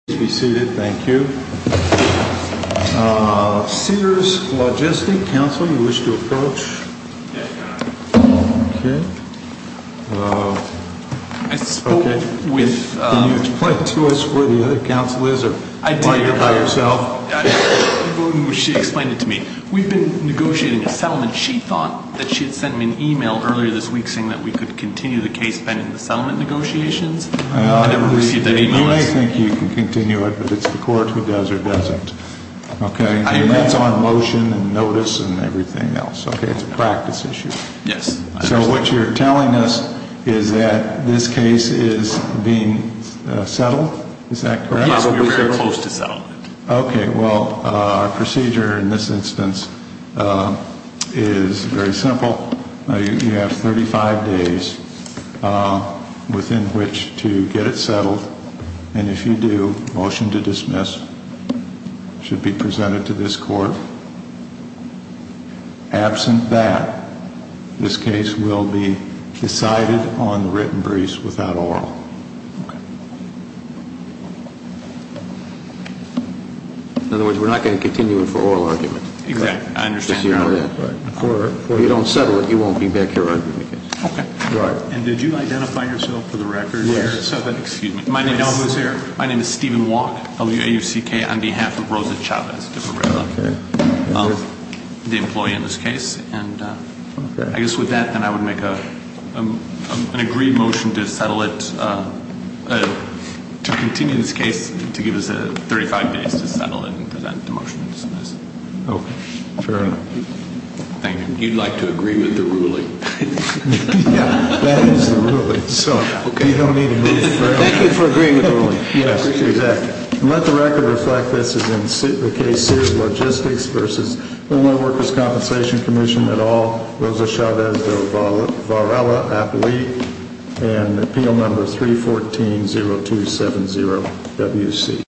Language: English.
Thank you. Sears Logistics Council, you wish to approach? I spoke with... Can you explain to us where the other council is or by yourself? She explained it to me. We've been negotiating a settlement. She thought that she had sent me an e-mail earlier this week saying that we could continue the case pending the settlement negotiations. I never received that e-mail. You may think you can continue it, but it's the court who does or doesn't. That's on motion and notice and everything else. It's a practice issue. Yes. So what you're telling us is that this case is being settled? Is that correct? Yes, we're very close to settlement. Okay. Well, our procedure in this instance is very simple. You have 35 days within which to get it settled. And if you do, motion to dismiss should be presented to this court. Absent that, this case will be decided on the written briefs without oral. Okay. In other words, we're not going to continue it for oral argument. Exactly. I understand your argument. If you don't settle it, you won't be back here arguing the case. Yes. My name is Stephen Walk, WAUCK, on behalf of Rosa Chavez, the employee in this case. And I guess with that, then I would make an agreed motion to settle it, to continue this case, to give us 35 days to settle it and present the motion to dismiss. Okay. Fair enough. Thank you. You'd like to agree with the ruling. That is the ruling, so you don't need to move. Thank you for agreeing with the ruling. Yes, exactly. And let the record reflect this as in the case Sears Logistics v. Illinois Workers' Compensation Commission et al., Rosa Chavez de Varela, appellee, and appeal number 314-0270-WC.